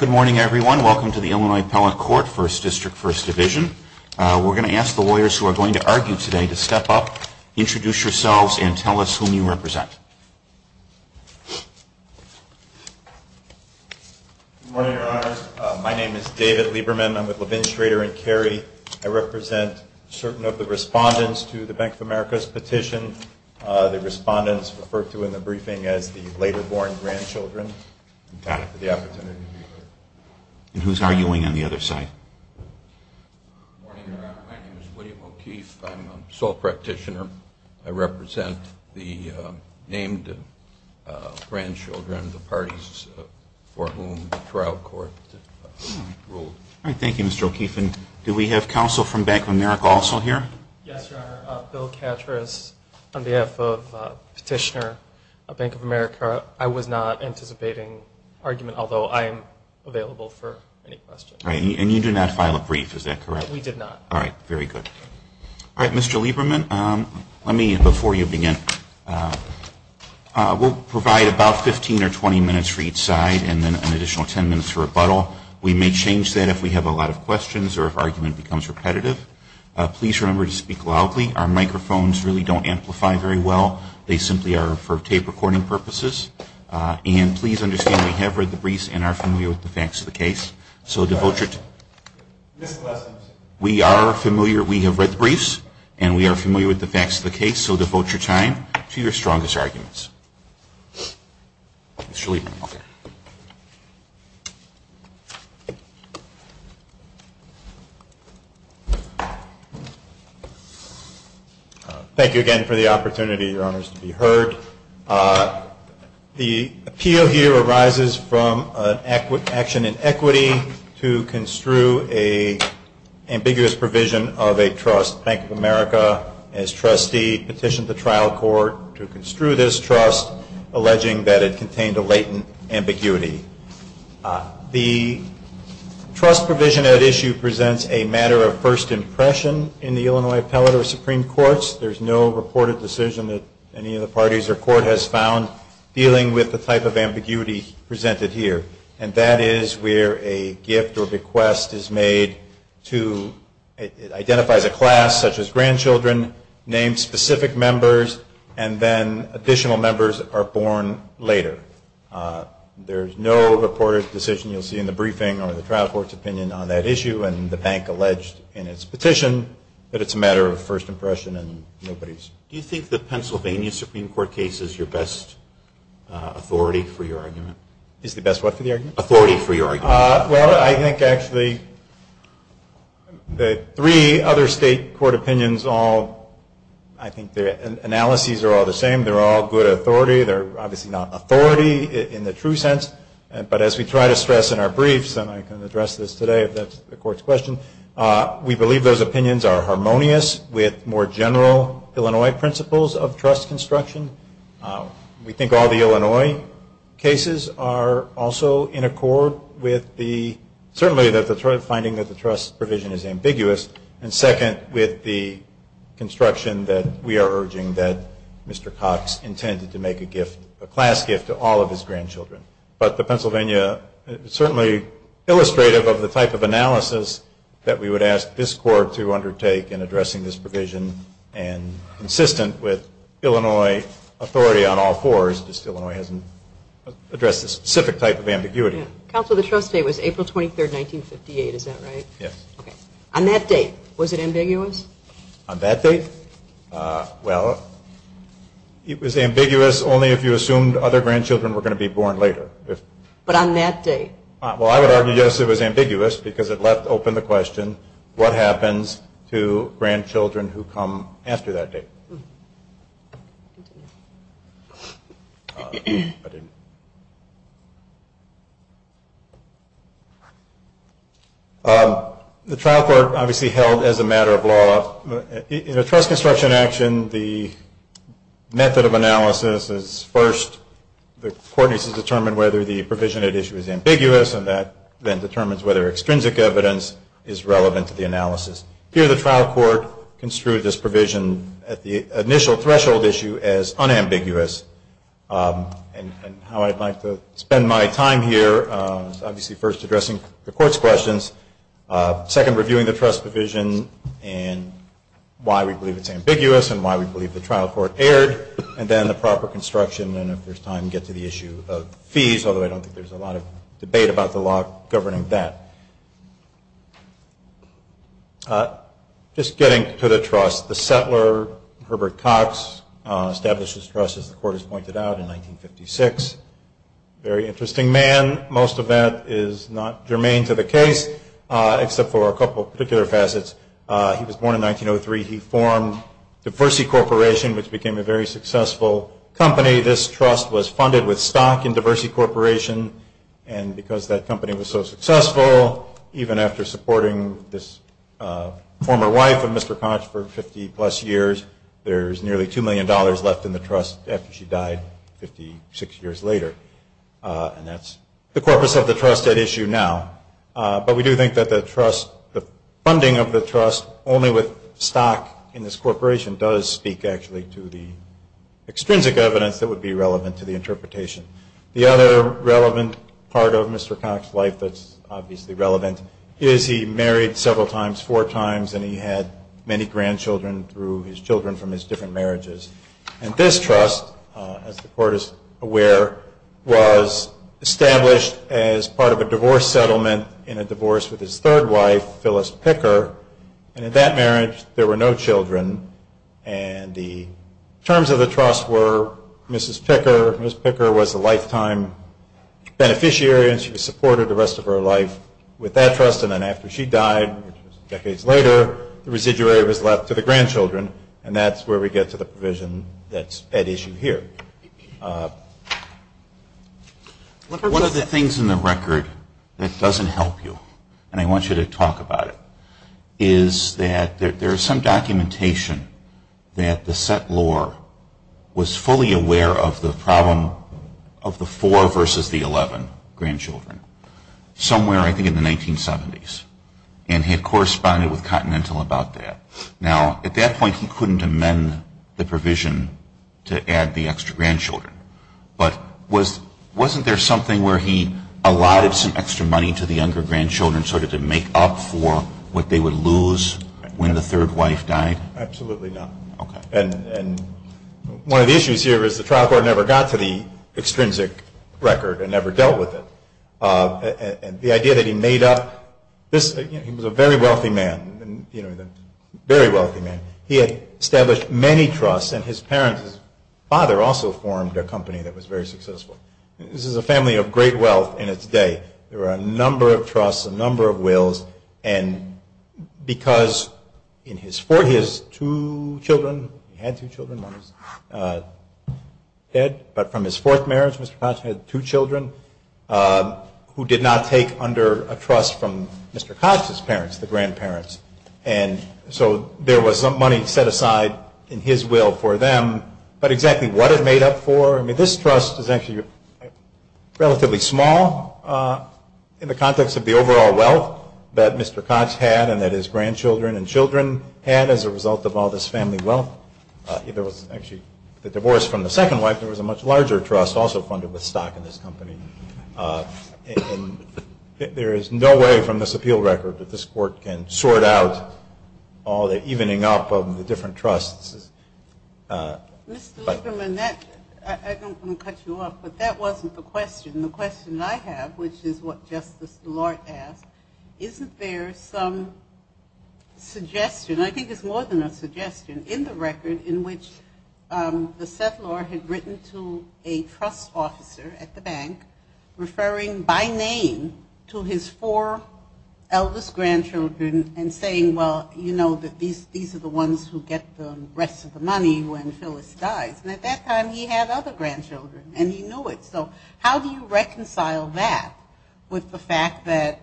Good morning everyone. Welcome to the Illinois Appellate Court, 1st District, 1st Division. We're going to ask the lawyers who are going to argue today to step up, introduce yourselves, and tell us whom you represent. Good morning, Your Honor. My name is David Lieberman. I'm with Levin, Schrader & Carey. I represent certain of the respondents to the Bank of America's petition, the respondents referred to in the briefing as the later-born grandchildren. I'm glad for the opportunity to be here. And who's arguing on the other side? Good morning, Your Honor. My name is William O'Keefe. I'm a sole practitioner. I represent the named grandchildren of the parties for whom the trial court ruled. All right. Thank you, Mr. O'Keefe. And do we have counsel from Bank of America also here? Yes, Your Honor. Bill Catras on behalf of Petitioner, Bank of America. I was not anticipating argument, although I am available for any questions. All right. And you did not file a brief, is that correct? We did not. All right. Very good. All right, Mr. Lieberman, let me, before you begin, we'll provide about 15 or 20 minutes for each side and then an additional 10 minutes for rebuttal. We may change that if we have a lot of questions or if argument becomes repetitive. Please remember to speak loudly. Our microphones really don't amplify very well. They simply are for tape recording purposes. And please understand we have read the briefs and are familiar with the facts of the case. So devote your time. We are familiar. We have read the briefs and we are familiar with the facts of the case. So devote your time to your strongest arguments. Mr. Lieberman. Thank you again for the opportunity, Your Honors, to be heard. The appeal here arises from an action in equity to construe an ambiguous provision of a trust. Bank of America, as trustee, petitioned the trial court to construe this trust, alleging that it contained a latent ambiguity. The trust provision at issue presents a matter of first impression in the Illinois is made to, it identifies a class such as grandchildren, names specific members, and then additional members are born later. There is no reported decision you'll see in the briefing or the trial court's opinion on that issue. And the bank alleged in its petition that it's a matter of first impression and nobody's. Do you think the Pennsylvania Supreme Court case is your best authority for your argument? Is the best what for the argument? Authority for your argument. Well, I think actually the three other state court opinions all, I think their analyses are all the same. They're all good authority. They're obviously not authority in the true sense. But as we try to stress in our briefs, and I can address this today if that's the court's question, we believe those opinions are harmonious with more general Illinois principles of trust construction. We think all the Illinois cases are also in accord with the, certainly the finding that the trust provision is ambiguous, and second, with the construction that we are urging that Mr. Cox intended to make a gift, a class gift to all of his grandchildren. But the Pennsylvania, certainly illustrative of the type of analysis that we would ask this court to undertake in addressing this provision, and consistent with Illinois authority on all fours, just Illinois hasn't addressed this specific type of ambiguity. Counsel, the trust date was April 23, 1958, is that right? Yes. Okay. On that date, was it ambiguous? On that date? Well, it was ambiguous only if you assumed other grandchildren were going to be born later. But on that date? Well, I would argue, yes, it was ambiguous because it left open the question, what happens to grandchildren who come after that date? The trial court obviously held, as a matter of law, in a trust construction action, the method of analysis is, first, the court needs to determine whether the provision at issue is ambiguous, and that then determines whether extrinsic evidence is relevant to the analysis. Here, the trial court construed this provision at the initial threshold issue as unambiguous, and how I'd like to spend my time here, obviously first addressing the court's questions, second, reviewing the trust provision, and why we believe it's ambiguous, and why we believe the trial court erred, and then the proper construction, and if there's time, get to the issue of fees, although I don't think there's a lot of debate about the law governing that. Just getting to the trust, the settler, Herbert Cox, established this trust, as the court has pointed out, in 1956. Very interesting man. Most of that is not germane to the case, except for a couple of particular facets. He was born in 1903. He formed Diversity Corporation, which became a very successful company. This trust was funded with stock in Diversity Corporation, and because that company was so successful, even after supporting this former wife of Mr. Cox for 50-plus years, there's nearly $2 million left in the trust after she died 56 years later, and that's the corpus of the trust at issue now. But we do think that the funding of the trust only with stock in this corporation does speak, actually, to the extrinsic evidence that would be relevant to the interpretation. The other relevant part of Mr. Cox's life that's obviously relevant is he married several times, four times, and he had many grandchildren through his children from his different marriages, and this trust, as the court is aware, was established as part of a divorce settlement in a divorce with his third wife, Phyllis Picker, and in that marriage there were no children, and the terms of the trust were Mrs. Picker. Mrs. Picker was a lifetime beneficiary, and she supported the rest of her life with that trust, and then after she died decades later, the residuary was left to the grandchildren, and that's where we get to the provision that's at issue here. One of the things in the record that doesn't help you, and I want you to talk about it, is that there is some documentation that the settlor was fully aware of the problem of the four versus the 11 grandchildren, somewhere, I think, in the 1970s, and had corresponded with Continental about that. Now, at that point, he couldn't amend the provision to add the extra grandchildren, but wasn't there something where he allotted some extra money to the younger grandchildren sort of to make up for what they would lose when the third wife died? Absolutely not. Okay. And one of the issues here is the trial court never got to the extrinsic record and never dealt with it. The idea that he made up, he was a very wealthy man, a very wealthy man. He had established many trusts, and his parents, his father also formed a company that was very successful. This is a family of great wealth in its day. There were a number of trusts, a number of wills, and because he has two children, he had two children, one was dead, but from his fourth marriage, Mr. Koch had two children, who did not take under a trust from Mr. Koch's parents, the grandparents. And so there was money set aside in his will for them, but exactly what it made up for, I mean, this trust is actually relatively small in the context of the overall wealth that Mr. Koch had and that his grandchildren and children had as a result of all this family wealth. There was actually the divorce from the second wife. There was a much larger trust also funded with stock in this company. And there is no way from this appeal record that this court can sort out all the evening up of the different trusts. Mr. Lieberman, I don't want to cut you off, but that wasn't the question. The question I have, which is what Justice DeLorte asked, isn't there some suggestion, I think it's more than a suggestion, in the record in which the settlor had written to a trust officer at the bank referring by name to his four eldest grandchildren and saying, well, you know, these are the ones who get the rest of the money when Phyllis dies. And at that time he had other grandchildren and he knew it. So how do you reconcile that with the fact that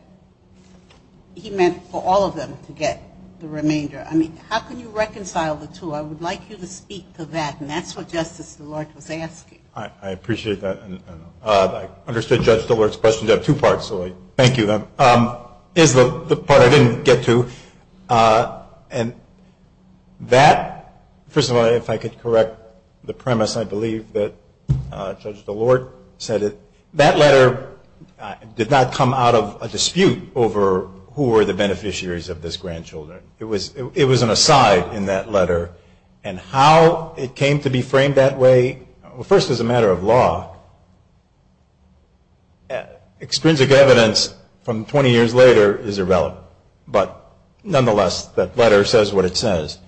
he meant for all of them to get the remainder? I mean, how can you reconcile the two? I would like you to speak to that, and that's what Justice DeLorte was asking. I appreciate that. I understood Judge DeLorte's question. You have two parts, so thank you. Here's the part I didn't get to. And that, first of all, if I could correct the premise, I believe that Judge DeLorte said that that letter did not come out of a dispute over who were the beneficiaries of these grandchildren. It was an aside in that letter. And how it came to be framed that way, first as a matter of law, extrinsic evidence from 20 years later is irrelevant. But nonetheless, that letter says what it says.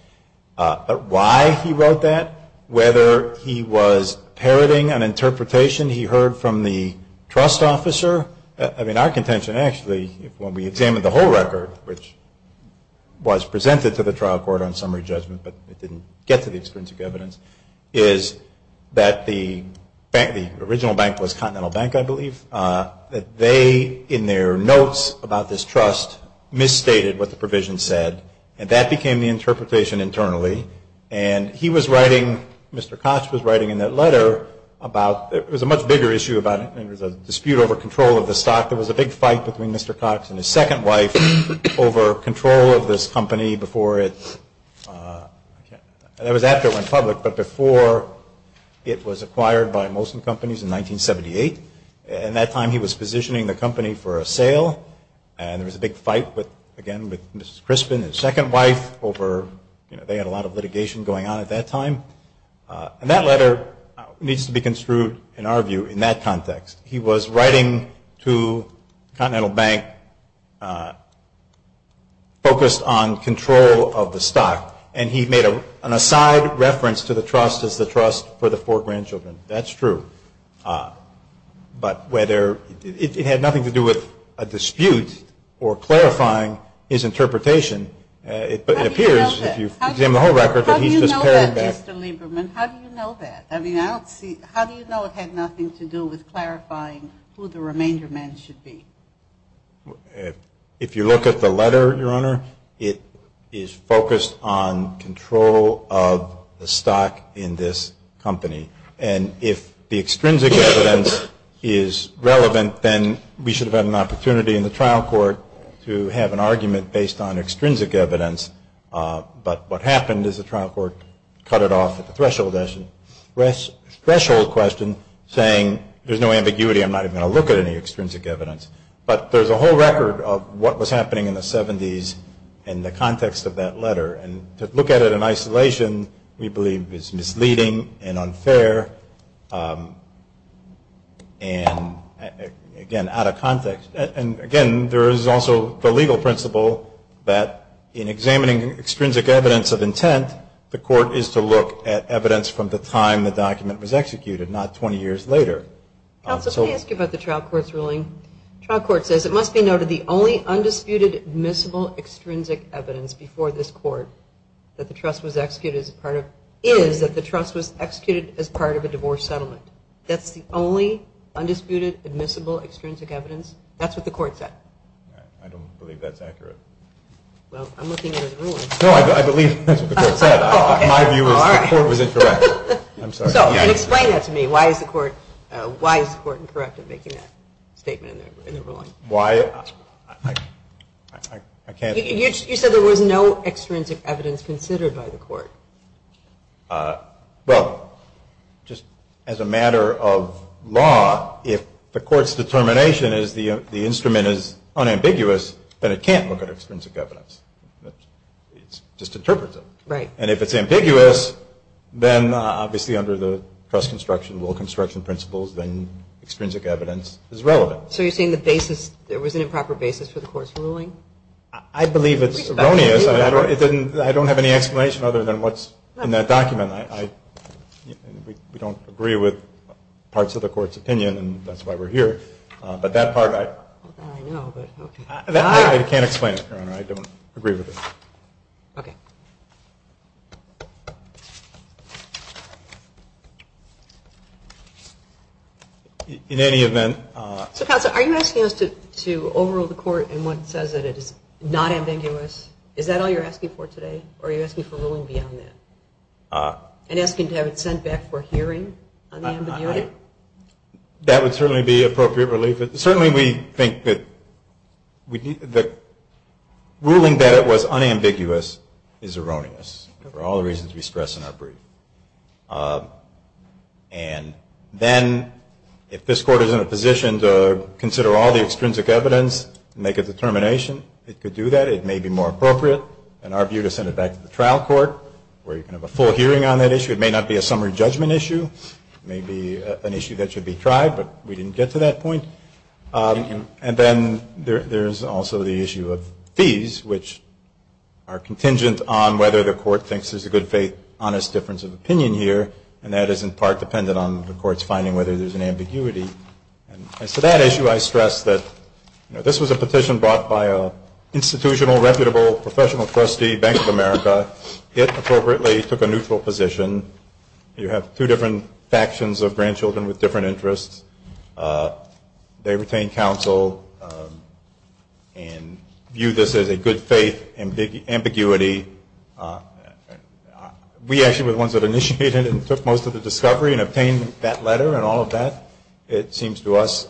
Why he wrote that, whether he was parroting an interpretation he heard from the trust officer, I mean, our contention, actually, when we examined the whole record, which was presented to the trial court on summary judgment but it didn't get to the extrinsic evidence, is that the original bank was Continental Bank, I believe, that they, in their notes about this trust, misstated what the provision said. And that became the interpretation internally. And he was writing, Mr. Cox was writing in that letter about, it was a much bigger issue, and it was a dispute over control of the stock. There was a big fight between Mr. Cox and his second wife over control of this company before it, that was after it went public, but before it was acquired by Molson Companies in 1978. And that time he was positioning the company for a sale. And there was a big fight, again, with Mrs. Crispin, his second wife, over, you know, they had a lot of litigation going on at that time. And that letter needs to be construed, in our view, in that context. He was writing to Continental Bank focused on control of the stock. And he made an aside reference to the trust as the trust for the four grandchildren. That's true. But whether it had nothing to do with a dispute or clarifying his interpretation, it appears, if you examine the whole record, that he's just paring back. How do you know that, Mr. Lieberman? How do you know that? How do you know it had nothing to do with clarifying who the remainder men should be? If you look at the letter, Your Honor, it is focused on control of the stock in this company. And if the extrinsic evidence is relevant, then we should have had an opportunity in the trial court to have an argument based on extrinsic evidence. But what happened is the trial court cut it off at the threshold question, saying there's no ambiguity. I'm not even going to look at any extrinsic evidence. But there's a whole record of what was happening in the 70s in the context of that letter. And to look at it in isolation, we believe, is misleading and unfair and, again, out of context. And, again, there is also the legal principle that in examining extrinsic evidence of intent, the court is to look at evidence from the time the document was executed, not 20 years later. Counsel, can I ask you about the trial court's ruling? The trial court says it must be noted the only undisputed admissible extrinsic evidence before this court that the trust was executed as part of a divorce settlement. That's the only undisputed admissible extrinsic evidence? That's what the court said. I don't believe that's accurate. Well, I'm looking at the ruling. No, I believe that's what the court said. My view is the court was incorrect. I'm sorry. Explain that to me. Why is the court incorrect in making that statement in the ruling? Why? You said there was no extrinsic evidence considered by the court. Well, just as a matter of law, if the court's determination is the instrument is unambiguous, then it can't look at extrinsic evidence. It just interprets it. Right. And if it's ambiguous, then obviously under the trust construction, rule construction principles, then extrinsic evidence is relevant. So you're saying the basis, there was an improper basis for the court's ruling? I believe it's erroneous. I don't have any explanation other than what's in that document. We don't agree with parts of the court's opinion, and that's why we're here. But that part, I can't explain it, Your Honor. I don't agree with it. Okay. In any event. Counsel, are you asking us to overrule the court in what says that it is not ambiguous? Is that all you're asking for today? Or are you asking for ruling beyond that? And asking to have it sent back for hearing on the ambiguity? That would certainly be appropriate relief. Certainly we think that ruling that it was unambiguous is erroneous, for all the reasons we stress in our brief. And then if this court is in a position to consider all the extrinsic evidence and make a determination, it could do that. It may be more appropriate in our view to send it back to the trial court, where you can have a full hearing on that issue. It may not be a summary judgment issue. It may be an issue that should be tried, but we didn't get to that point. And then there's also the issue of fees, which are contingent on whether the court thinks there's a good faith, honest difference of opinion here, and that is in part dependent on the court's finding whether there's an ambiguity. As to that issue, I stress that this was a petition brought by an institutional, reputable, professional trustee, Bank of America. It appropriately took a neutral position. You have two different factions of grandchildren with different interests. They retain counsel and view this as a good faith ambiguity. We actually were the ones that initiated it and took most of the discovery and obtained that letter and all of that. It seems to us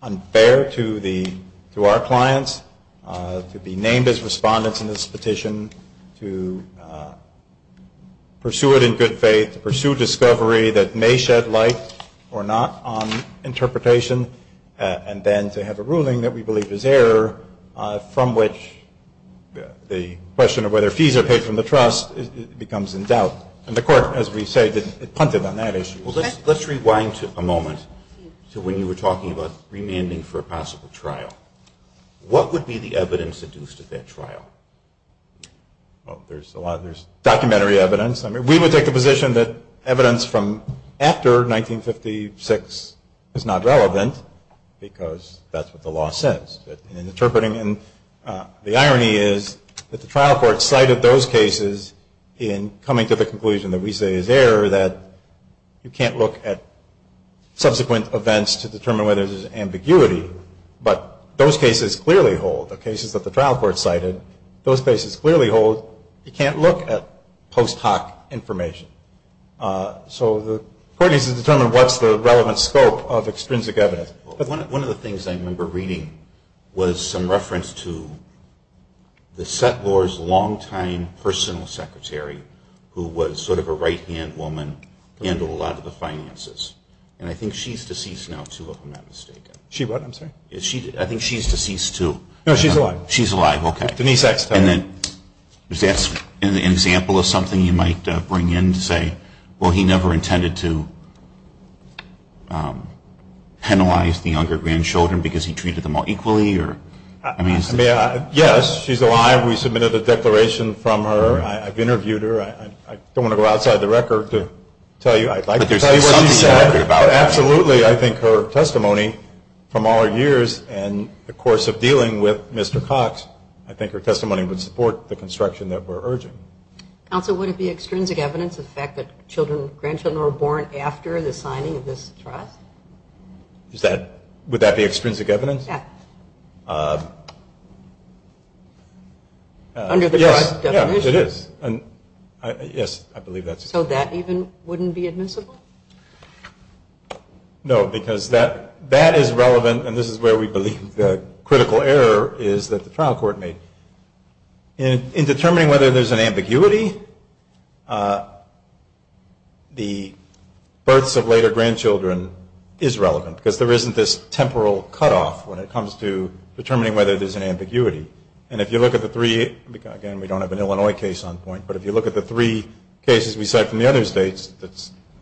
unfair to our clients to be named as respondents in this petition, to pursue it in good faith, to pursue discovery that may shed light or not on interpretation, and then to have a ruling that we believe is error, from which the question of whether fees are paid from the trust becomes in doubt. And the court, as we say, punted on that issue. Let's rewind a moment to when you were talking about remanding for a possible trial. What would be the evidence induced at that trial? There's a lot. There's documentary evidence. I mean, we would take the position that evidence from after 1956 is not relevant, because that's what the law says. And the irony is that the trial court cited those cases in coming to the conclusion that we say is error, that you can't look at subsequent events to determine whether there's ambiguity. But those cases clearly hold. The cases that the trial court cited, those cases clearly hold. You can't look at post hoc information. So the court needs to determine what's the relevant scope of extrinsic evidence. One of the things I remember reading was some reference to the settlor's long-time personal secretary, who was sort of a right-hand woman, handled a lot of the finances. And I think she's deceased now, too, if I'm not mistaken. She what, I'm sorry? I think she's deceased, too. No, she's alive. She's alive, okay. Denise Axtell. And then is that an example of something you might bring in to say, well, he never intended to penalize the younger grandchildren because he treated them all equally? Yes, she's alive. We submitted a declaration from her. I've interviewed her. I don't want to go outside the record to tell you. I'd like to tell you what she said. But absolutely, I think her testimony from all her years and the course of dealing with Mr. Cox, I think her testimony would support the construction that we're urging. Counsel, would it be extrinsic evidence, the fact that children, grandchildren were born after the signing of this trust? Would that be extrinsic evidence? Yes. Under the trust definition. Yes, it is. Yes, I believe that's correct. So that even wouldn't be admissible? No, because that is relevant, and this is where we believe the critical error is that the trial court made. In determining whether there's an ambiguity, the births of later grandchildren is relevant because there isn't this temporal cutoff when it comes to determining whether there's an ambiguity. And if you look at the three, again, we don't have an Illinois case on point, but if you look at the three cases we cite from the other states,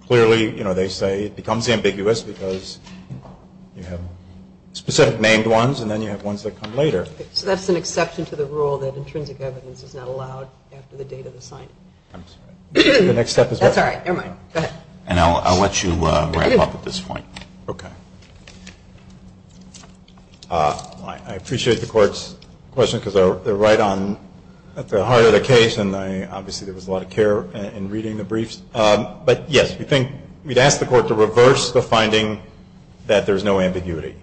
clearly, you know, they say it becomes ambiguous because you have specific named ones and then you have ones that come later. So that's an exception to the rule that intrinsic evidence is not allowed after the date of the signing. I'm sorry. The next step is what? That's all right. Never mind. Go ahead. And I'll let you wrap up at this point. Okay. I appreciate the court's question because they're right on at the heart of the case, and obviously there was a lot of care in reading the briefs. But, yes, we'd ask the court to reverse the finding that there's no ambiguity.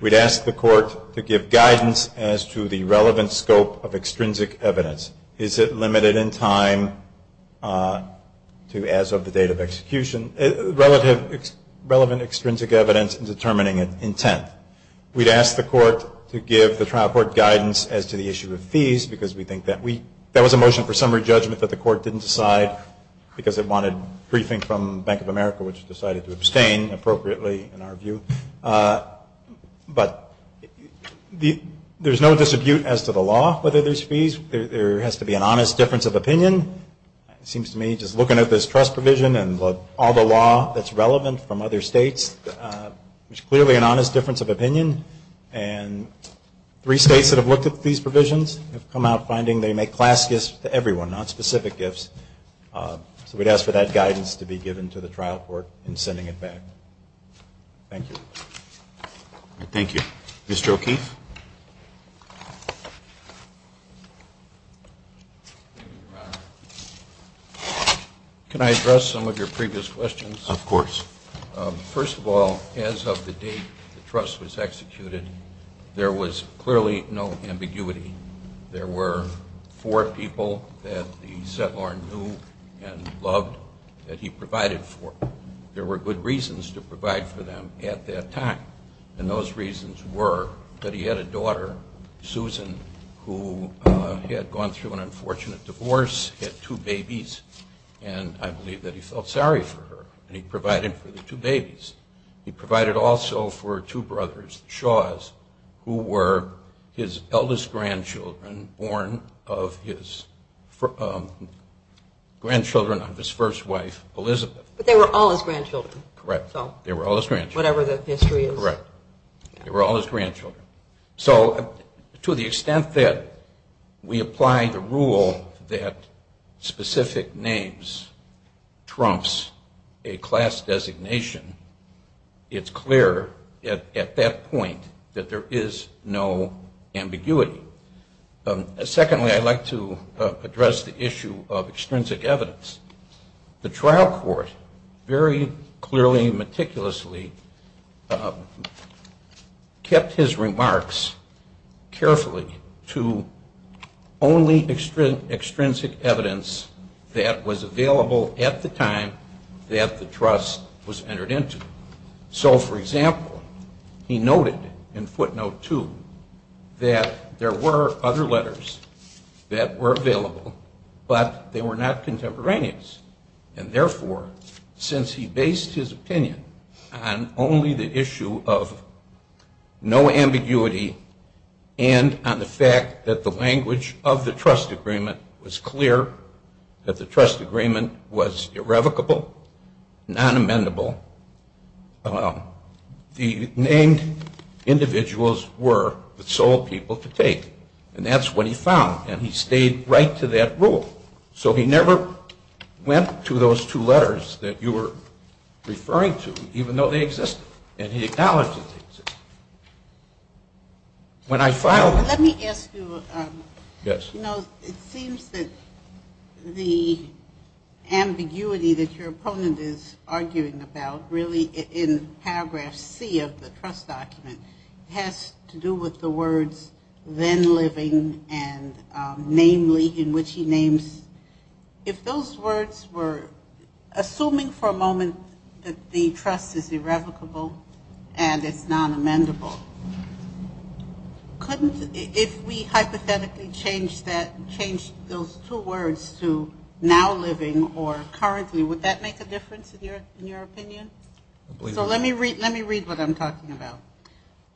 We'd ask the court to give guidance as to the relevant scope of extrinsic evidence. Is it limited in time to as of the date of execution? Relative, relevant extrinsic evidence in determining an intent. We'd ask the court to give the trial court guidance as to the issue of fees because we think that was a motion for summary judgment that the court didn't decide because it wanted briefing from Bank of America, which decided to abstain appropriately in our view. But there's no dispute as to the law, whether there's fees. There has to be an honest difference of opinion. It seems to me just looking at this trust provision and all the law that's relevant from other states, there's clearly an honest difference of opinion. And three states that have looked at these provisions have come out finding they make class gifts to everyone, not specific gifts. So we'd ask for that guidance to be given to the trial court in sending it back. Thank you. Thank you. Mr. O'Keefe? Thank you, Your Honor. Can I address some of your previous questions? Of course. First of all, as of the date the trust was executed, there was clearly no ambiguity. There were four people that the settlor knew and loved that he provided for. There were good reasons to provide for them at that time, and those reasons were that he had a daughter, Susan, who had gone through an unfortunate divorce, had two babies, and I believe that he felt sorry for her. And he provided for the two babies. He provided also for two brothers, Shaw's, who were his eldest grandchildren, born of his grandchildren of his first wife, Elizabeth. But they were all his grandchildren. Correct. They were all his grandchildren. Whatever the history is. Correct. They were all his grandchildren. So to the extent that we apply the rule that specific names trumps a class designation, it's clear at that point that there is no ambiguity. Secondly, I'd like to address the issue of extrinsic evidence. The trial court very clearly and meticulously kept his remarks carefully to only extrinsic evidence that was available at the time that the trust was entered into. So, for example, he noted in footnote two that there were other letters that were available, but they were not contemporaneous. And therefore, since he based his opinion on only the issue of no ambiguity and on the fact that the language of the trust agreement was clear, that the trust agreement was irrevocable, non-amendable, the named individuals were the sole people to take. And that's what he found. And he stayed right to that rule. So he never went to those two letters that you were referring to, even though they existed. And he acknowledged that they existed. When I filed this. Let me ask you. Yes. You know, it seems that the ambiguity that your opponent is arguing about, really in paragraph C of the trust document, has to do with the words then living and namely in which he names. If those words were assuming for a moment that the trust is irrevocable and it's non-amendable, if we hypothetically changed those two words to now living or currently, would that make a difference in your opinion? So let me read what I'm talking about.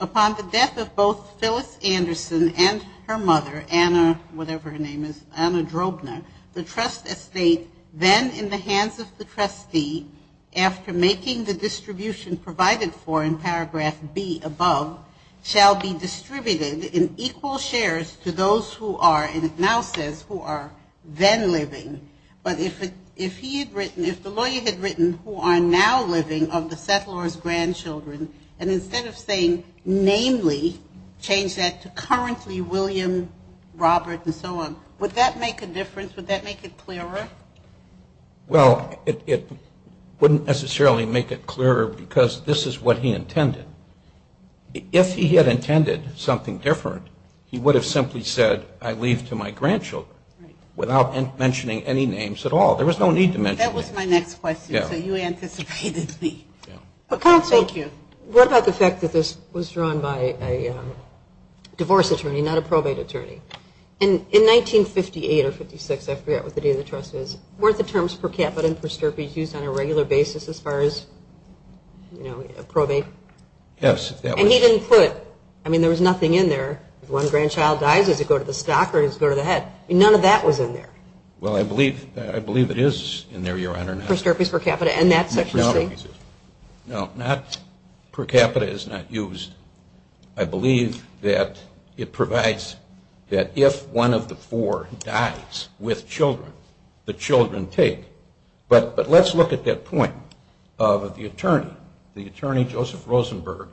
Upon the death of both Phyllis Anderson and her mother, Anna, whatever her name is, Anna Drobner, the trust estate then in the hands of the trustee, after making the distribution provided for in paragraph B above, shall be distributed in equal shares to those who are, and it now says, who are then living. But if he had written, if the lawyer had written who are now living of the settler's grandchildren, and instead of saying namely, change that to currently William Robert and so on, would that make a difference? Would that make it clearer? Well, it wouldn't necessarily make it clearer because this is what he intended. If he had intended something different, he would have simply said, I leave to my grandchildren, without mentioning any names at all. There was no need to mention names. That was my next question, so you anticipated me. Counsel, what about the fact that this was drawn by a divorce attorney, not a probate attorney? In 1958 or 56, I forget what the date of the trust is, weren't the terms per capita and per stirpe used on a regular basis as far as, you know, a probate? Yes. And he didn't put, I mean, there was nothing in there. If one grandchild dies, does it go to the stock or does it go to the head? None of that was in there. Well, I believe it is in there, Your Honor. Per stirpe is per capita, and that's such a thing? No, per capita is not used. I believe that it provides that if one of the four dies with children, the children take. But let's look at that point of the attorney. The attorney, Joseph Rosenberg,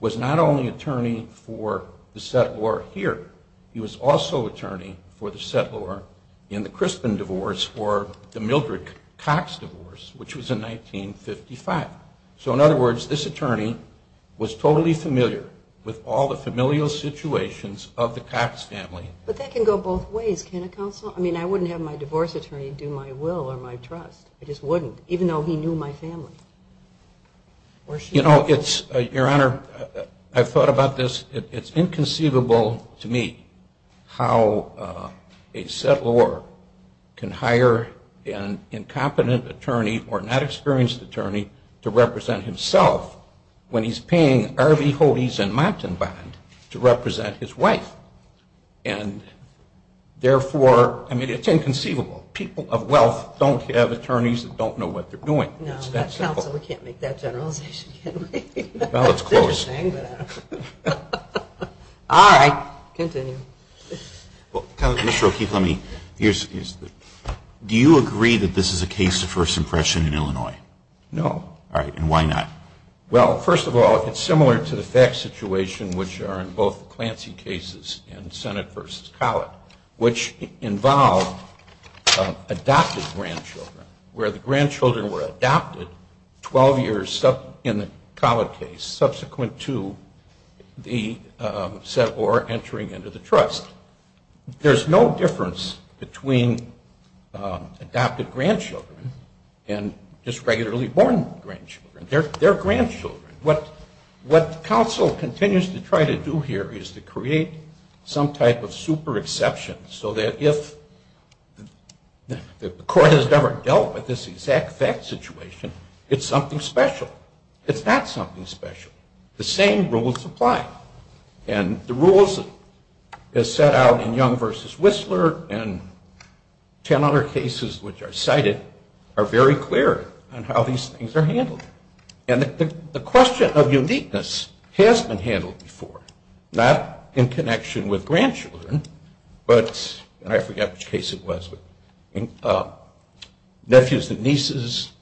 was not only attorney for the settlor here. He was also attorney for the settlor in the Crispin divorce or the Mildred Cox divorce, which was in 1955. So, in other words, this attorney was totally familiar with all the familial situations of the Cox family. But that can go both ways, can it, Counsel? I mean, I wouldn't have my divorce attorney do my will or my trust. I just wouldn't, even though he knew my family. You know, Your Honor, I've thought about this. It's inconceivable to me how a settlor can hire an incompetent attorney or not experienced attorney to represent himself when he's paying Harvey Hodes and Montenband to represent his wife. And therefore, I mean, it's inconceivable. People of wealth don't have attorneys that don't know what they're doing. No, Counsel, we can't make that generalization, can we? Well, it's closed. All right, continue. Mr. O'Keefe, do you agree that this is a case of first impression in Illinois? No. All right, and why not? Well, first of all, it's similar to the FACTS situation, which are in both the Clancy cases and Senate v. Collett, which involve adopted grandchildren, where the grandchildren were adopted 12 years in the Collett case, subsequent to the settlor entering into the trust. There's no difference between adopted grandchildren and just regularly born grandchildren. They're grandchildren. What counsel continues to try to do here is to create some type of super exception so that if the court has never dealt with this exact FACTS situation, it's something special. It's not something special. The same rules apply. And the rules as set out in Young v. Whistler and 10 other cases which are cited are very clear on how these things are handled. And the question of uniqueness has been handled before, not in connection with grandchildren, but I forget which case it was, but nephews and nieces,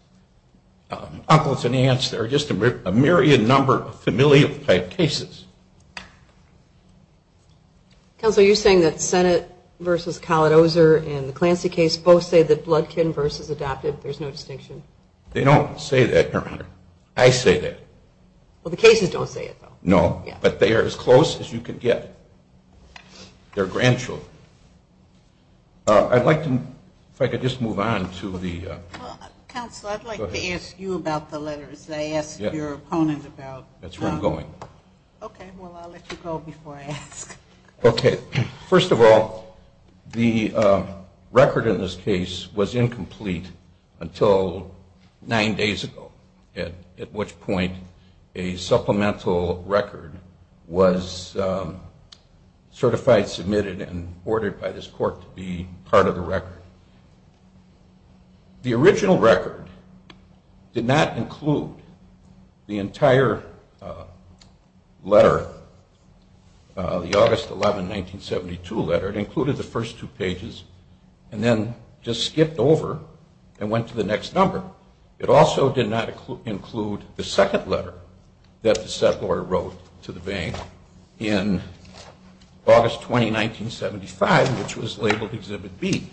uncles and aunts. There are just a myriad number of familial type cases. Counsel, are you saying that Senate v. Collett-Ozer and the Clancy case both say that Bloodkin versus adopted, there's no distinction? They don't say that, Your Honor. I say that. Well, the cases don't say it, though. No, but they are as close as you can get. They're grandchildren. I'd like to, if I could just move on to the... Counsel, I'd like to ask you about the letters. I asked your opponent about... That's where I'm going. Okay, well, I'll let you go before I ask. Okay, first of all, the record in this case was incomplete until nine days ago, at which point a supplemental record was certified, submitted, and ordered by this court to be part of the record. The original record did not include the entire letter, the August 11, 1972 letter. It included the first two pages and then just skipped over and went to the next number. It also did not include the second letter that the settlor wrote to the bank in August 20, 1975, which was labeled Exhibit B.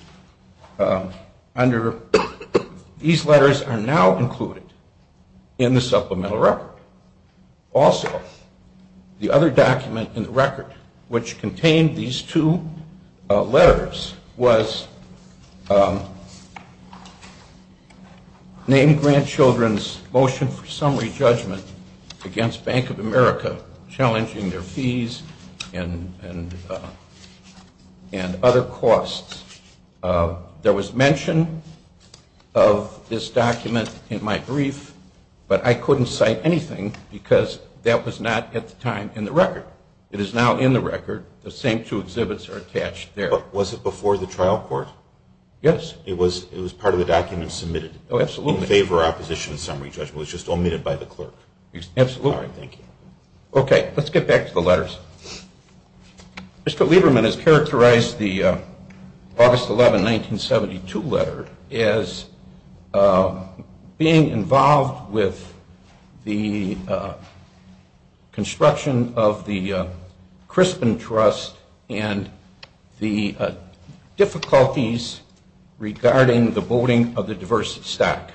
These letters are now included in the supplemental record. Also, the other document in the record, which contained these two letters, was named grandchildren's motion for summary judgment against Bank of America, challenging their fees and other costs. There was mention of this document in my brief, but I couldn't cite anything because that was not at the time in the record. It is now in the record. The same two exhibits are attached there. Was it before the trial court? Yes. It was part of the document submitted in favor of opposition summary judgment. It was just omitted by the clerk. Absolutely. All right, thank you. Okay, let's get back to the letters. Mr. Lieberman has characterized the August 11, 1972 letter as being involved with the construction of the Crispin Trust and the difficulties regarding the boating of the diverse stock.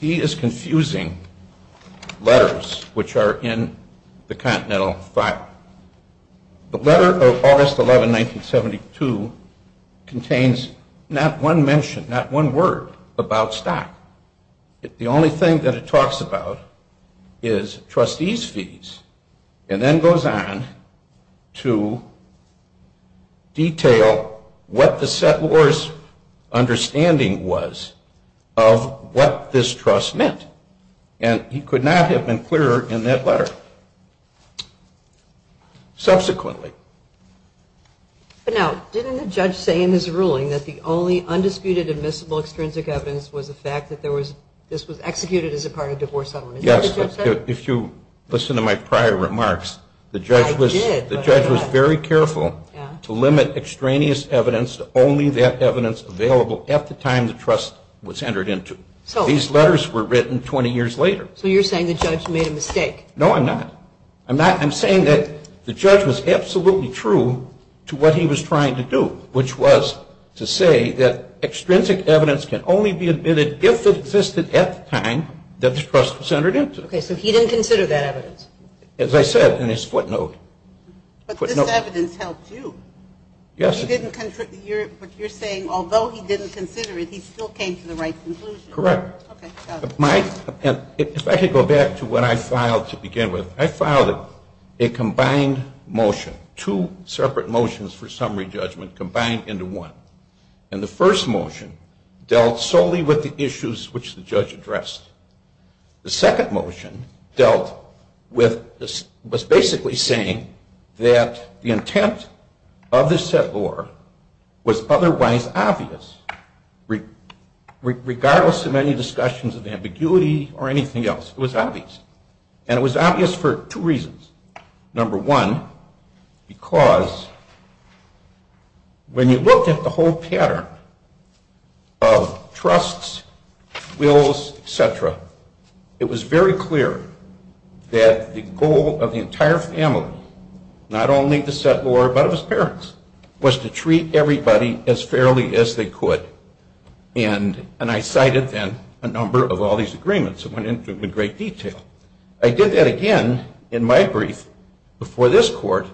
He is confusing letters, which are in the Continental File. The letter of August 11, 1972 contains not one mention, not one word about stock. The only thing that it talks about is trustees' fees and then goes on to detail what the settlor's understanding was of what this trust meant. And he could not have been clearer in that letter. Subsequently. Now, didn't the judge say in his ruling that the only undisputed, admissible extrinsic evidence was the fact that this was executed as a part of divorce settlement? Yes. If you listen to my prior remarks, the judge was very careful to limit extraneous evidence to only that evidence available at the time the trust was entered into. These letters were written 20 years later. So you're saying the judge made a mistake? No, I'm not. I'm saying that the judge was absolutely true to what he was trying to do, which was to say that extrinsic evidence can only be admitted if it existed at the time that the trust was entered into. Okay, so he didn't consider that evidence? As I said in his footnote. But this evidence helped you. Yes. But you're saying although he didn't consider it, he still came to the right conclusion. Correct. Okay, got it. If I could go back to what I filed to begin with, I filed a combined motion, two separate motions for summary judgment combined into one. And the first motion dealt solely with the issues which the judge addressed. The second motion dealt with basically saying that the intent of this set law was otherwise obvious, regardless of any discussions of ambiguity or anything else. It was obvious. And it was obvious for two reasons. Number one, because when you looked at the whole pattern of trusts, wills, et cetera, it was very clear that the goal of the entire family, not only the set law but of his parents, was to treat everybody as fairly as they could. And I cited then a number of all these agreements that went into great detail. I did that again in my brief before this court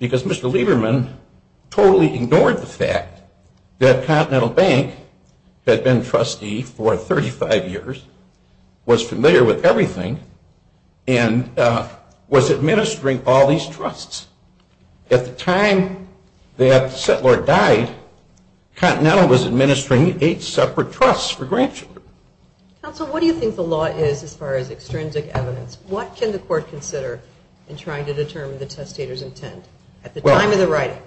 because Mr. Lieberman totally ignored the fact that Continental Bank had been trustee for 35 years, was familiar with everything, and was administering all these trusts. At the time that Settler died, Continental was administering eight separate trusts for grandchildren. Counsel, what do you think the law is as far as extrinsic evidence? What can the court consider in trying to determine the testator's intent at the time of the writing?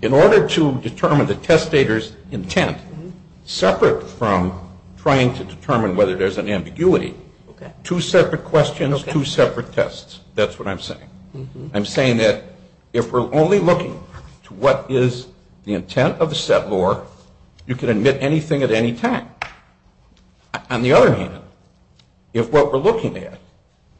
In order to determine the testator's intent, separate from trying to determine whether there's an ambiguity, two separate questions, two separate tests. That's what I'm saying. I'm saying that if we're only looking to what is the intent of the set law, you can admit anything at any time. On the other hand, if what we're looking at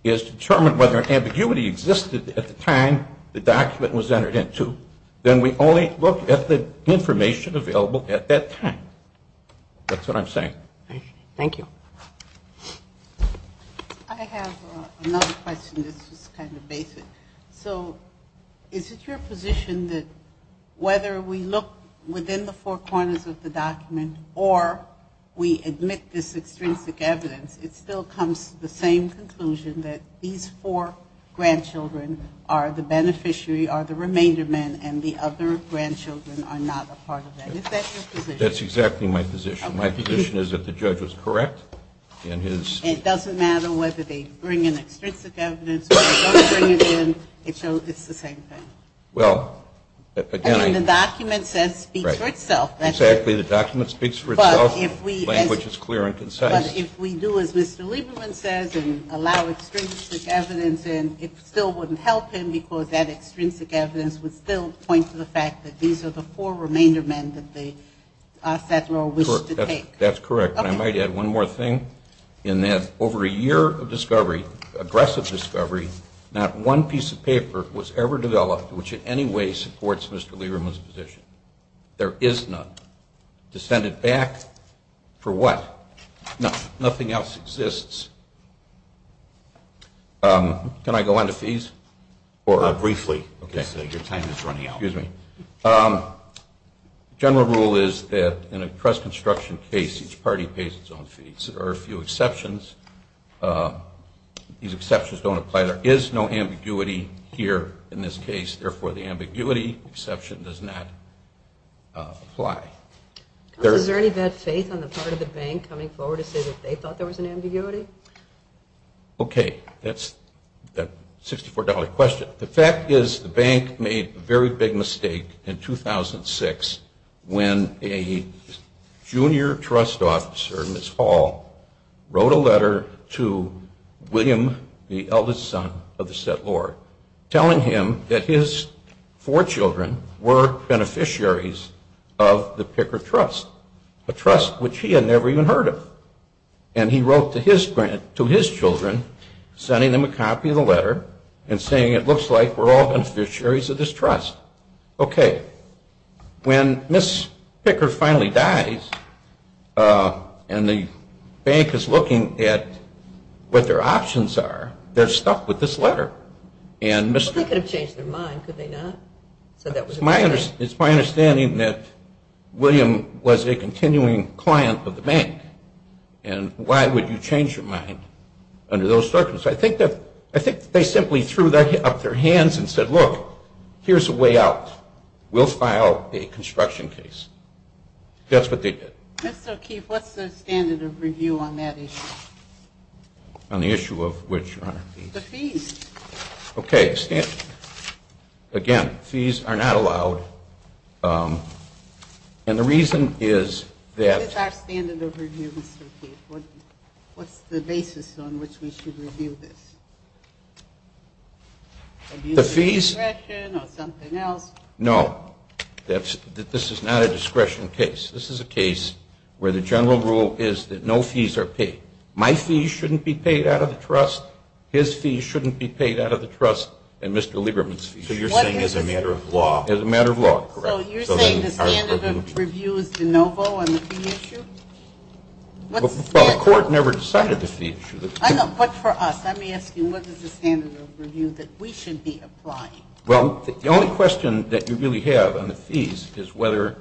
is to determine whether an ambiguity existed at the time the document was entered into, then we only look at the information available at that time. That's what I'm saying. Thank you. I have another question that's just kind of basic. So is it your position that whether we look within the four corners of the document or we admit this extrinsic evidence, it still comes to the same conclusion that these four grandchildren are the beneficiary or the remainder men and the other grandchildren are not a part of that? Is that your position? That's exactly my position. My position is that the judge was correct in his ---- It doesn't matter whether they bring in extrinsic evidence or they don't bring it in. It's the same thing. Well, again, I ---- I mean, the document says speaks for itself. Exactly. The document speaks for itself. Language is clear and concise. But if we do as Mr. Lieberman says and allow extrinsic evidence in, it still wouldn't help him because that extrinsic evidence would still point to the fact that these are the four remainder men that the settler wished to take. That's correct. And I might add one more thing in that over a year of discovery, aggressive discovery, not one piece of paper was ever developed which in any way supports Mr. Lieberman's position. There is none. To send it back for what? Nothing else exists. Can I go on to fees? Briefly because your time is running out. Excuse me. General rule is that in a trust construction case, each party pays its own fees. There are a few exceptions. These exceptions don't apply. There is no ambiguity here in this case. Therefore, the ambiguity exception does not apply. Is there any bad faith on the part of the bank coming forward to say that they thought there was an ambiguity? Okay. That's a $64 question. The fact is the bank made a very big mistake in 2006 when a junior trust officer, Ms. Hall, wrote a letter to William, the eldest son of the settlor, telling him that his four children were beneficiaries of the Picker Trust, a trust which he had never even heard of. And he wrote to his children sending them a copy of the letter and saying it looks like we're all beneficiaries of this trust. Okay. When Ms. Picker finally dies and the bank is looking at what their options are, they're stuck with this letter. Well, they could have changed their mind, could they not? It's my understanding that William was a continuing client of the bank, and why would you change your mind under those circumstances? I think they simply threw up their hands and said, look, here's a way out. We'll file a construction case. That's what they did. Mr. O'Keefe, what's the standard of review on that issue? On the issue of which, Your Honor? The fees. Okay. Again, fees are not allowed. And the reason is that. What is our standard of review, Mr. O'Keefe? What's the basis on which we should review this? The fees? Discretion or something else? No. This is not a discretion case. This is a case where the general rule is that no fees are paid. My fees shouldn't be paid out of the trust. His fees shouldn't be paid out of the trust and Mr. Lieberman's fees. So you're saying as a matter of law. As a matter of law, correct. So you're saying the standard of review is de novo on the fee issue? Well, the court never decided the fee issue. I know. But for us, I'm asking what is the standard of review that we should be applying? Well, the only question that you really have on the fees is whether.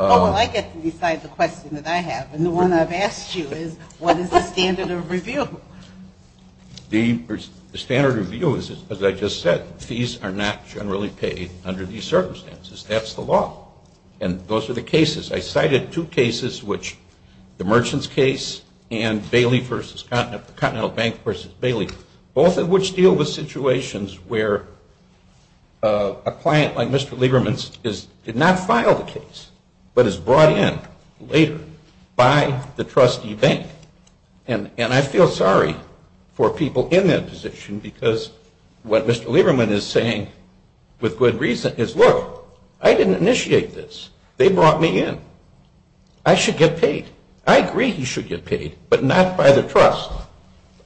Oh, well, I get to decide the question that I have. And the one I've asked you is what is the standard of review? The standard of review is, as I just said, fees are not generally paid under these circumstances. That's the law. And those are the cases. I cited two cases, which the merchants case and Bailey versus Continental Bank versus Bailey, both of which deal with situations where a client like Mr. Lieberman's did not file the case but is brought in later by the trustee bank. And I feel sorry for people in that position because what Mr. Lieberman is saying with good reason is, look, I didn't initiate this. They brought me in. I should get paid. I agree he should get paid, but not by the trust.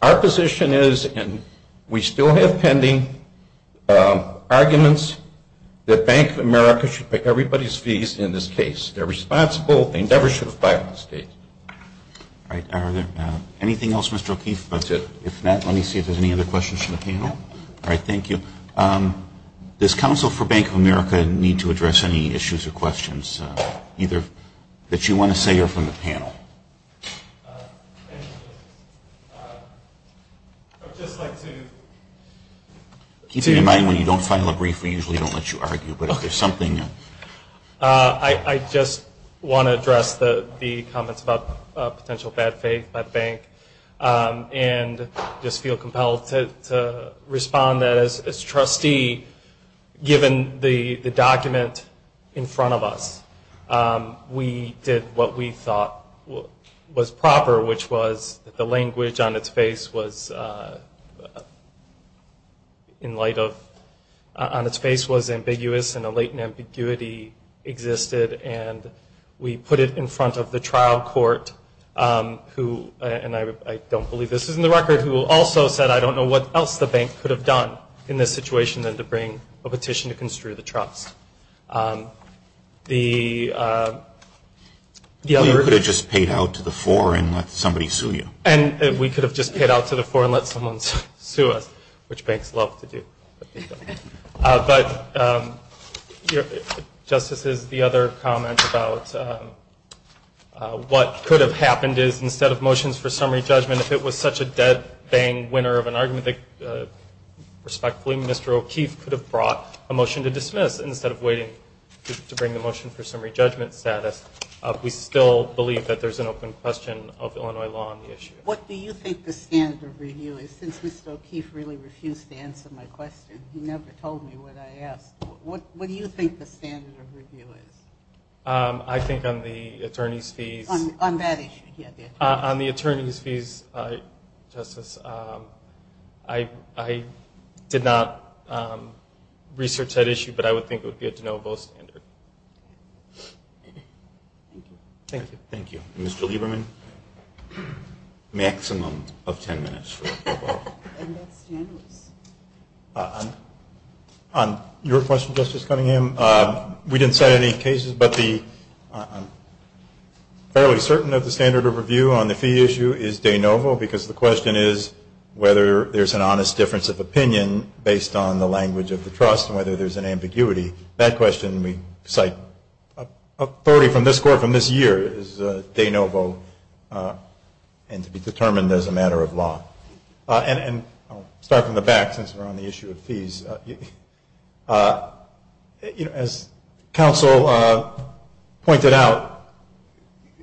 Our position is, and we still have pending, arguments that Bank of America should pay everybody's fees in this case. They're responsible. They never should have bribed the state. All right. Are there anything else, Mr. O'Keefe? If not, let me see if there's any other questions from the panel. All right. Thank you. Does Counsel for Bank of America need to address any issues or questions, either that you want to say or from the panel? I'd just like to. Keep in mind when you don't file a brief, we usually don't let you argue. But if there's something. I just want to address the comments about potential bad faith by the bank and just feel compelled to respond that as a trustee, given the document in front of us, we did what we thought was proper, which was the language on its face was in light of, on its face was ambiguous and a latent ambiguity existed. And we put it in front of the trial court, who, and I don't believe this is in the record, who also said I don't know what else the bank could have done in this situation than to bring a petition to construe the trust. You could have just paid out to the fore and let somebody sue you. And we could have just paid out to the fore and let someone sue us, which banks love to do. But, Justices, the other comment about what could have happened is instead of motions for summary judgment, if it was such a dead bang winner of an argument that respectfully Mr. O'Keefe could have brought a motion to dismiss instead of waiting to bring the motion for summary judgment status, we still believe that there's an open question of Illinois law on the issue. What do you think the standard of review is? Since Mr. O'Keefe really refused to answer my question. He never told me what I asked. What do you think the standard of review is? I think on the attorney's fees. On that issue, yeah. On the attorney's fees, Justice, I did not research that issue, but I would think it would be a de novo standard. Thank you. Thank you. Mr. Lieberman? Maximum of ten minutes. On your question, Justice Cunningham, we didn't cite any cases, but I'm fairly certain that the standard of review on the fee issue is de novo because the question is whether there's an honest difference of opinion based on the language of the trust and whether there's an ambiguity. That question we cite authority from this court from this year is de novo and to be determined as a matter of law. And I'll start from the back since we're on the issue of fees. As counsel pointed out,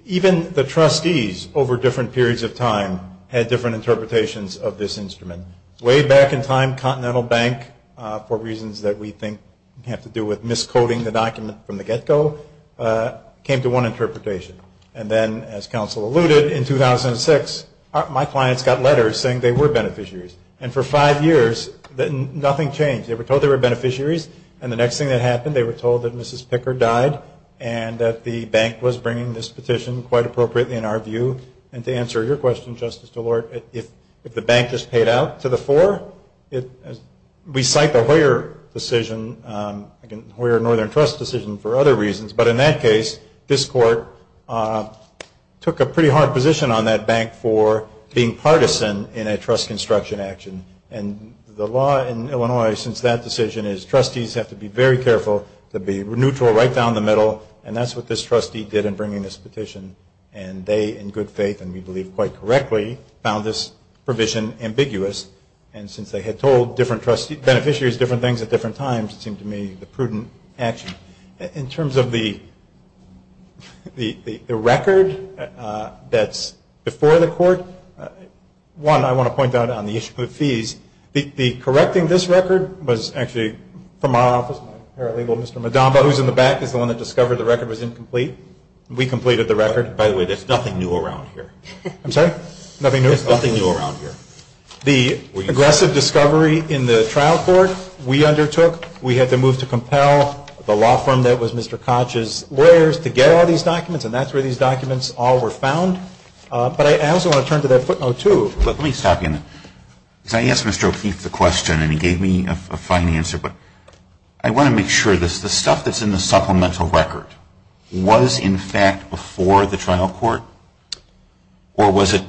even the trustees over different periods of time had different interpretations of this instrument. Way back in time, Continental Bank, for reasons that we think have to do with miscoding the document from the get-go, came to one interpretation. And then, as counsel alluded, in 2006, my clients got letters saying they were beneficiaries. And for five years, nothing changed. They were told they were beneficiaries, and the next thing that happened, they were told that Mrs. Picker died and that the bank was bringing this petition quite appropriately in our view. And to answer your question, Justice DeLort, if the bank just paid out to the fore, we cite the Hoyer decision, the Hoyer Northern Trust decision, for other reasons. But in that case, this court took a pretty hard position on that bank for being partisan in a trust construction action. And the law in Illinois since that decision is trustees have to be very careful to be neutral right down the middle, and that's what this trustee did in bringing this petition. And they, in good faith and we believe quite correctly, found this provision ambiguous. And since they had told different beneficiaries different things at different times, it seemed to me the prudent action. In terms of the record that's before the court, one, I want to point out on the issue of fees, the correcting this record was actually from our office, my paralegal, Mr. Modamba, who's in the back, is the one that discovered the record was incomplete. We completed the record. By the way, there's nothing new around here. I'm sorry? Nothing new? There's nothing new around here. The aggressive discovery in the trial court, we undertook. We had to move to compel the law firm that was Mr. Koch's lawyers to get all these documents, and that's where these documents all were found. But I also want to turn to that footnote, too. Let me stop you on that. Because I asked Mr. O'Keefe the question, and he gave me a fine answer, but I want to make sure this, the stuff that's in the supplemental record was, in fact, before the trial court? Or was it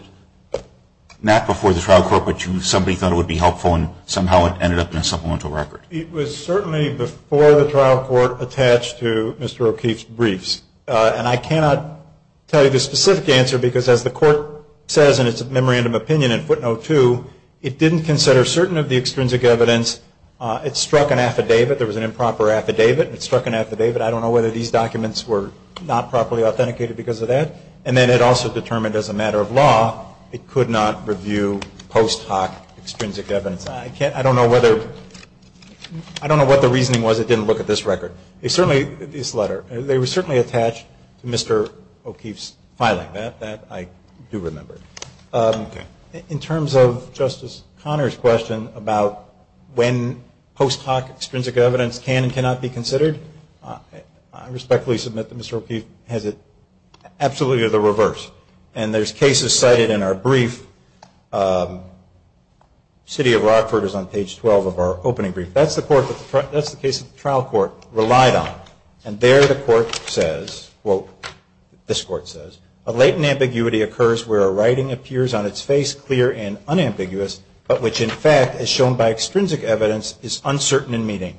not before the trial court, but somebody thought it would be helpful and somehow it ended up in a supplemental record? It was certainly before the trial court attached to Mr. O'Keefe's briefs. And I cannot tell you the specific answer, because as the court says in its memorandum opinion in footnote two, it didn't consider certain of the extrinsic evidence. It struck an affidavit. There was an improper affidavit. It struck an affidavit. I don't know whether these documents were not properly authenticated because of that. And then it also determined as a matter of law it could not review post hoc extrinsic evidence. I don't know whether, I don't know what the reasoning was it didn't look at this record. It certainly, this letter, they were certainly attached to Mr. O'Keefe's file like that. That I do remember. In terms of Justice Conner's question about when post hoc extrinsic evidence can and cannot be considered, I respectfully submit that Mr. O'Keefe has it absolutely the reverse. And there's cases cited in our brief. City of Rockford is on page 12 of our opening brief. That's the case that the trial court relied on. And there the court says, quote, this court says, A latent ambiguity occurs where a writing appears on its face clear and unambiguous, but which in fact, as shown by extrinsic evidence, is uncertain in meaning.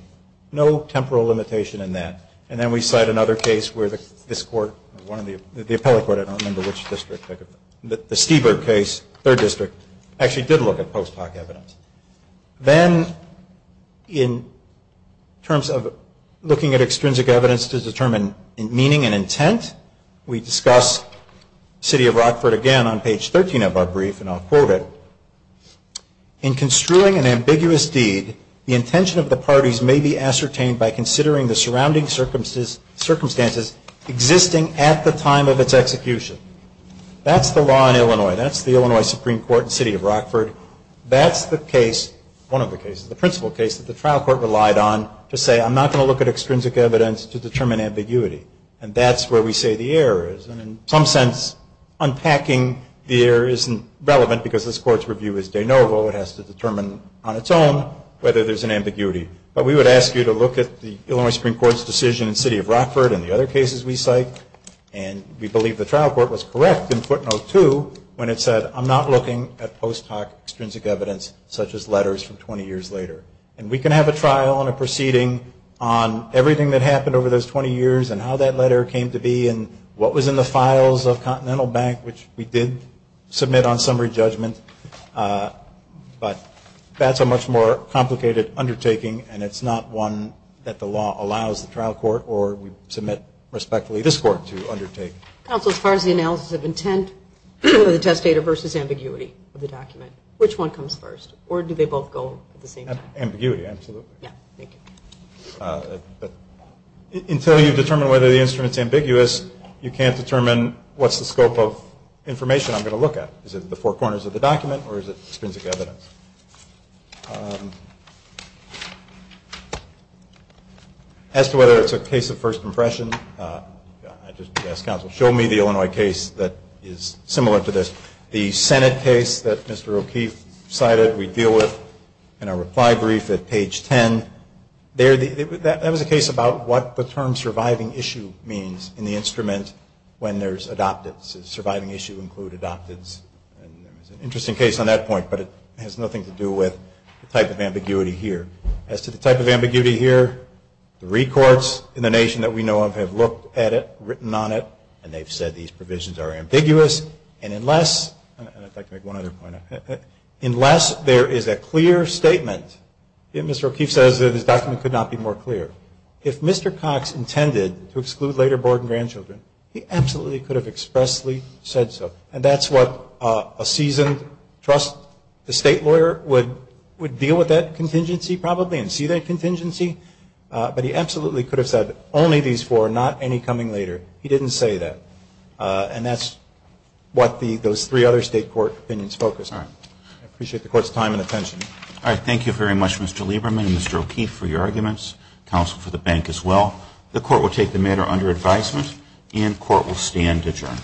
No temporal limitation in that. And then we cite another case where this court, the appellate court, I don't remember which district, the Stieberg case, third district, actually did look at post hoc evidence. Then in terms of looking at extrinsic evidence to determine meaning and ambiguity, City of Rockford, again, on page 13 of our brief, and I'll quote it. In construing an ambiguous deed, the intention of the parties may be ascertained by considering the surrounding circumstances existing at the time of its execution. That's the law in Illinois. That's the Illinois Supreme Court in City of Rockford. That's the case, one of the cases, the principal case that the trial court relied on to say I'm not going to look at extrinsic evidence to determine ambiguity. And that's where we say the error is. And in some sense, unpacking the error isn't relevant because this court's review is de novo. It has to determine on its own whether there's an ambiguity. But we would ask you to look at the Illinois Supreme Court's decision in City of Rockford and the other cases we cite. And we believe the trial court was correct in footnote two when it said I'm not looking at post hoc extrinsic evidence such as letters from 20 years later. And we can have a trial and a proceeding on everything that happened over those 20 years and how that letter came to be and what was in the files of Continental Bank, which we did submit on summary judgment. But that's a much more complicated undertaking and it's not one that the law allows the trial court or we submit respectfully this court to undertake. Counsel, as far as the analysis of intent of the test data versus ambiguity of the document, which one comes first? Or do they both go at the same time? Ambiguity, absolutely. Yeah, thank you. But until you determine whether the instrument's ambiguous, you can't determine what's the scope of information I'm going to look at. Is it the four corners of the document or is it extrinsic evidence? As to whether it's a case of first impression, I just ask counsel show me the Illinois case that is similar to this. The Senate case that Mr. O'Keefe cited we deal with in our reply brief at page 10, that was a case about what the term surviving issue means in the instrument when there's adoptives. Does surviving issue include adoptives? It's an interesting case on that point, but it has nothing to do with the type of ambiguity here. As to the type of ambiguity here, three courts in the nation that we know of have looked at it, written on it, and they've said these provisions are ambiguous. And unless, and I'd like to make one other point, unless there is a clear statement, if Mr. O'Keefe says that his document could not be more clear, if Mr. Cox intended to exclude later board and grandchildren, he absolutely could have expressly said so. And that's what a seasoned trust, the state lawyer, would deal with that contingency probably and see that contingency. But he absolutely could have said only these four, not any coming later. He didn't say that. And that's what those three other state court opinions focus on. I appreciate the court's time and attention. All right. Thank you very much, Mr. Lieberman and Mr. O'Keefe, for your arguments. Counsel for the bank as well. The court will take the matter under advisement and court will stand adjourned.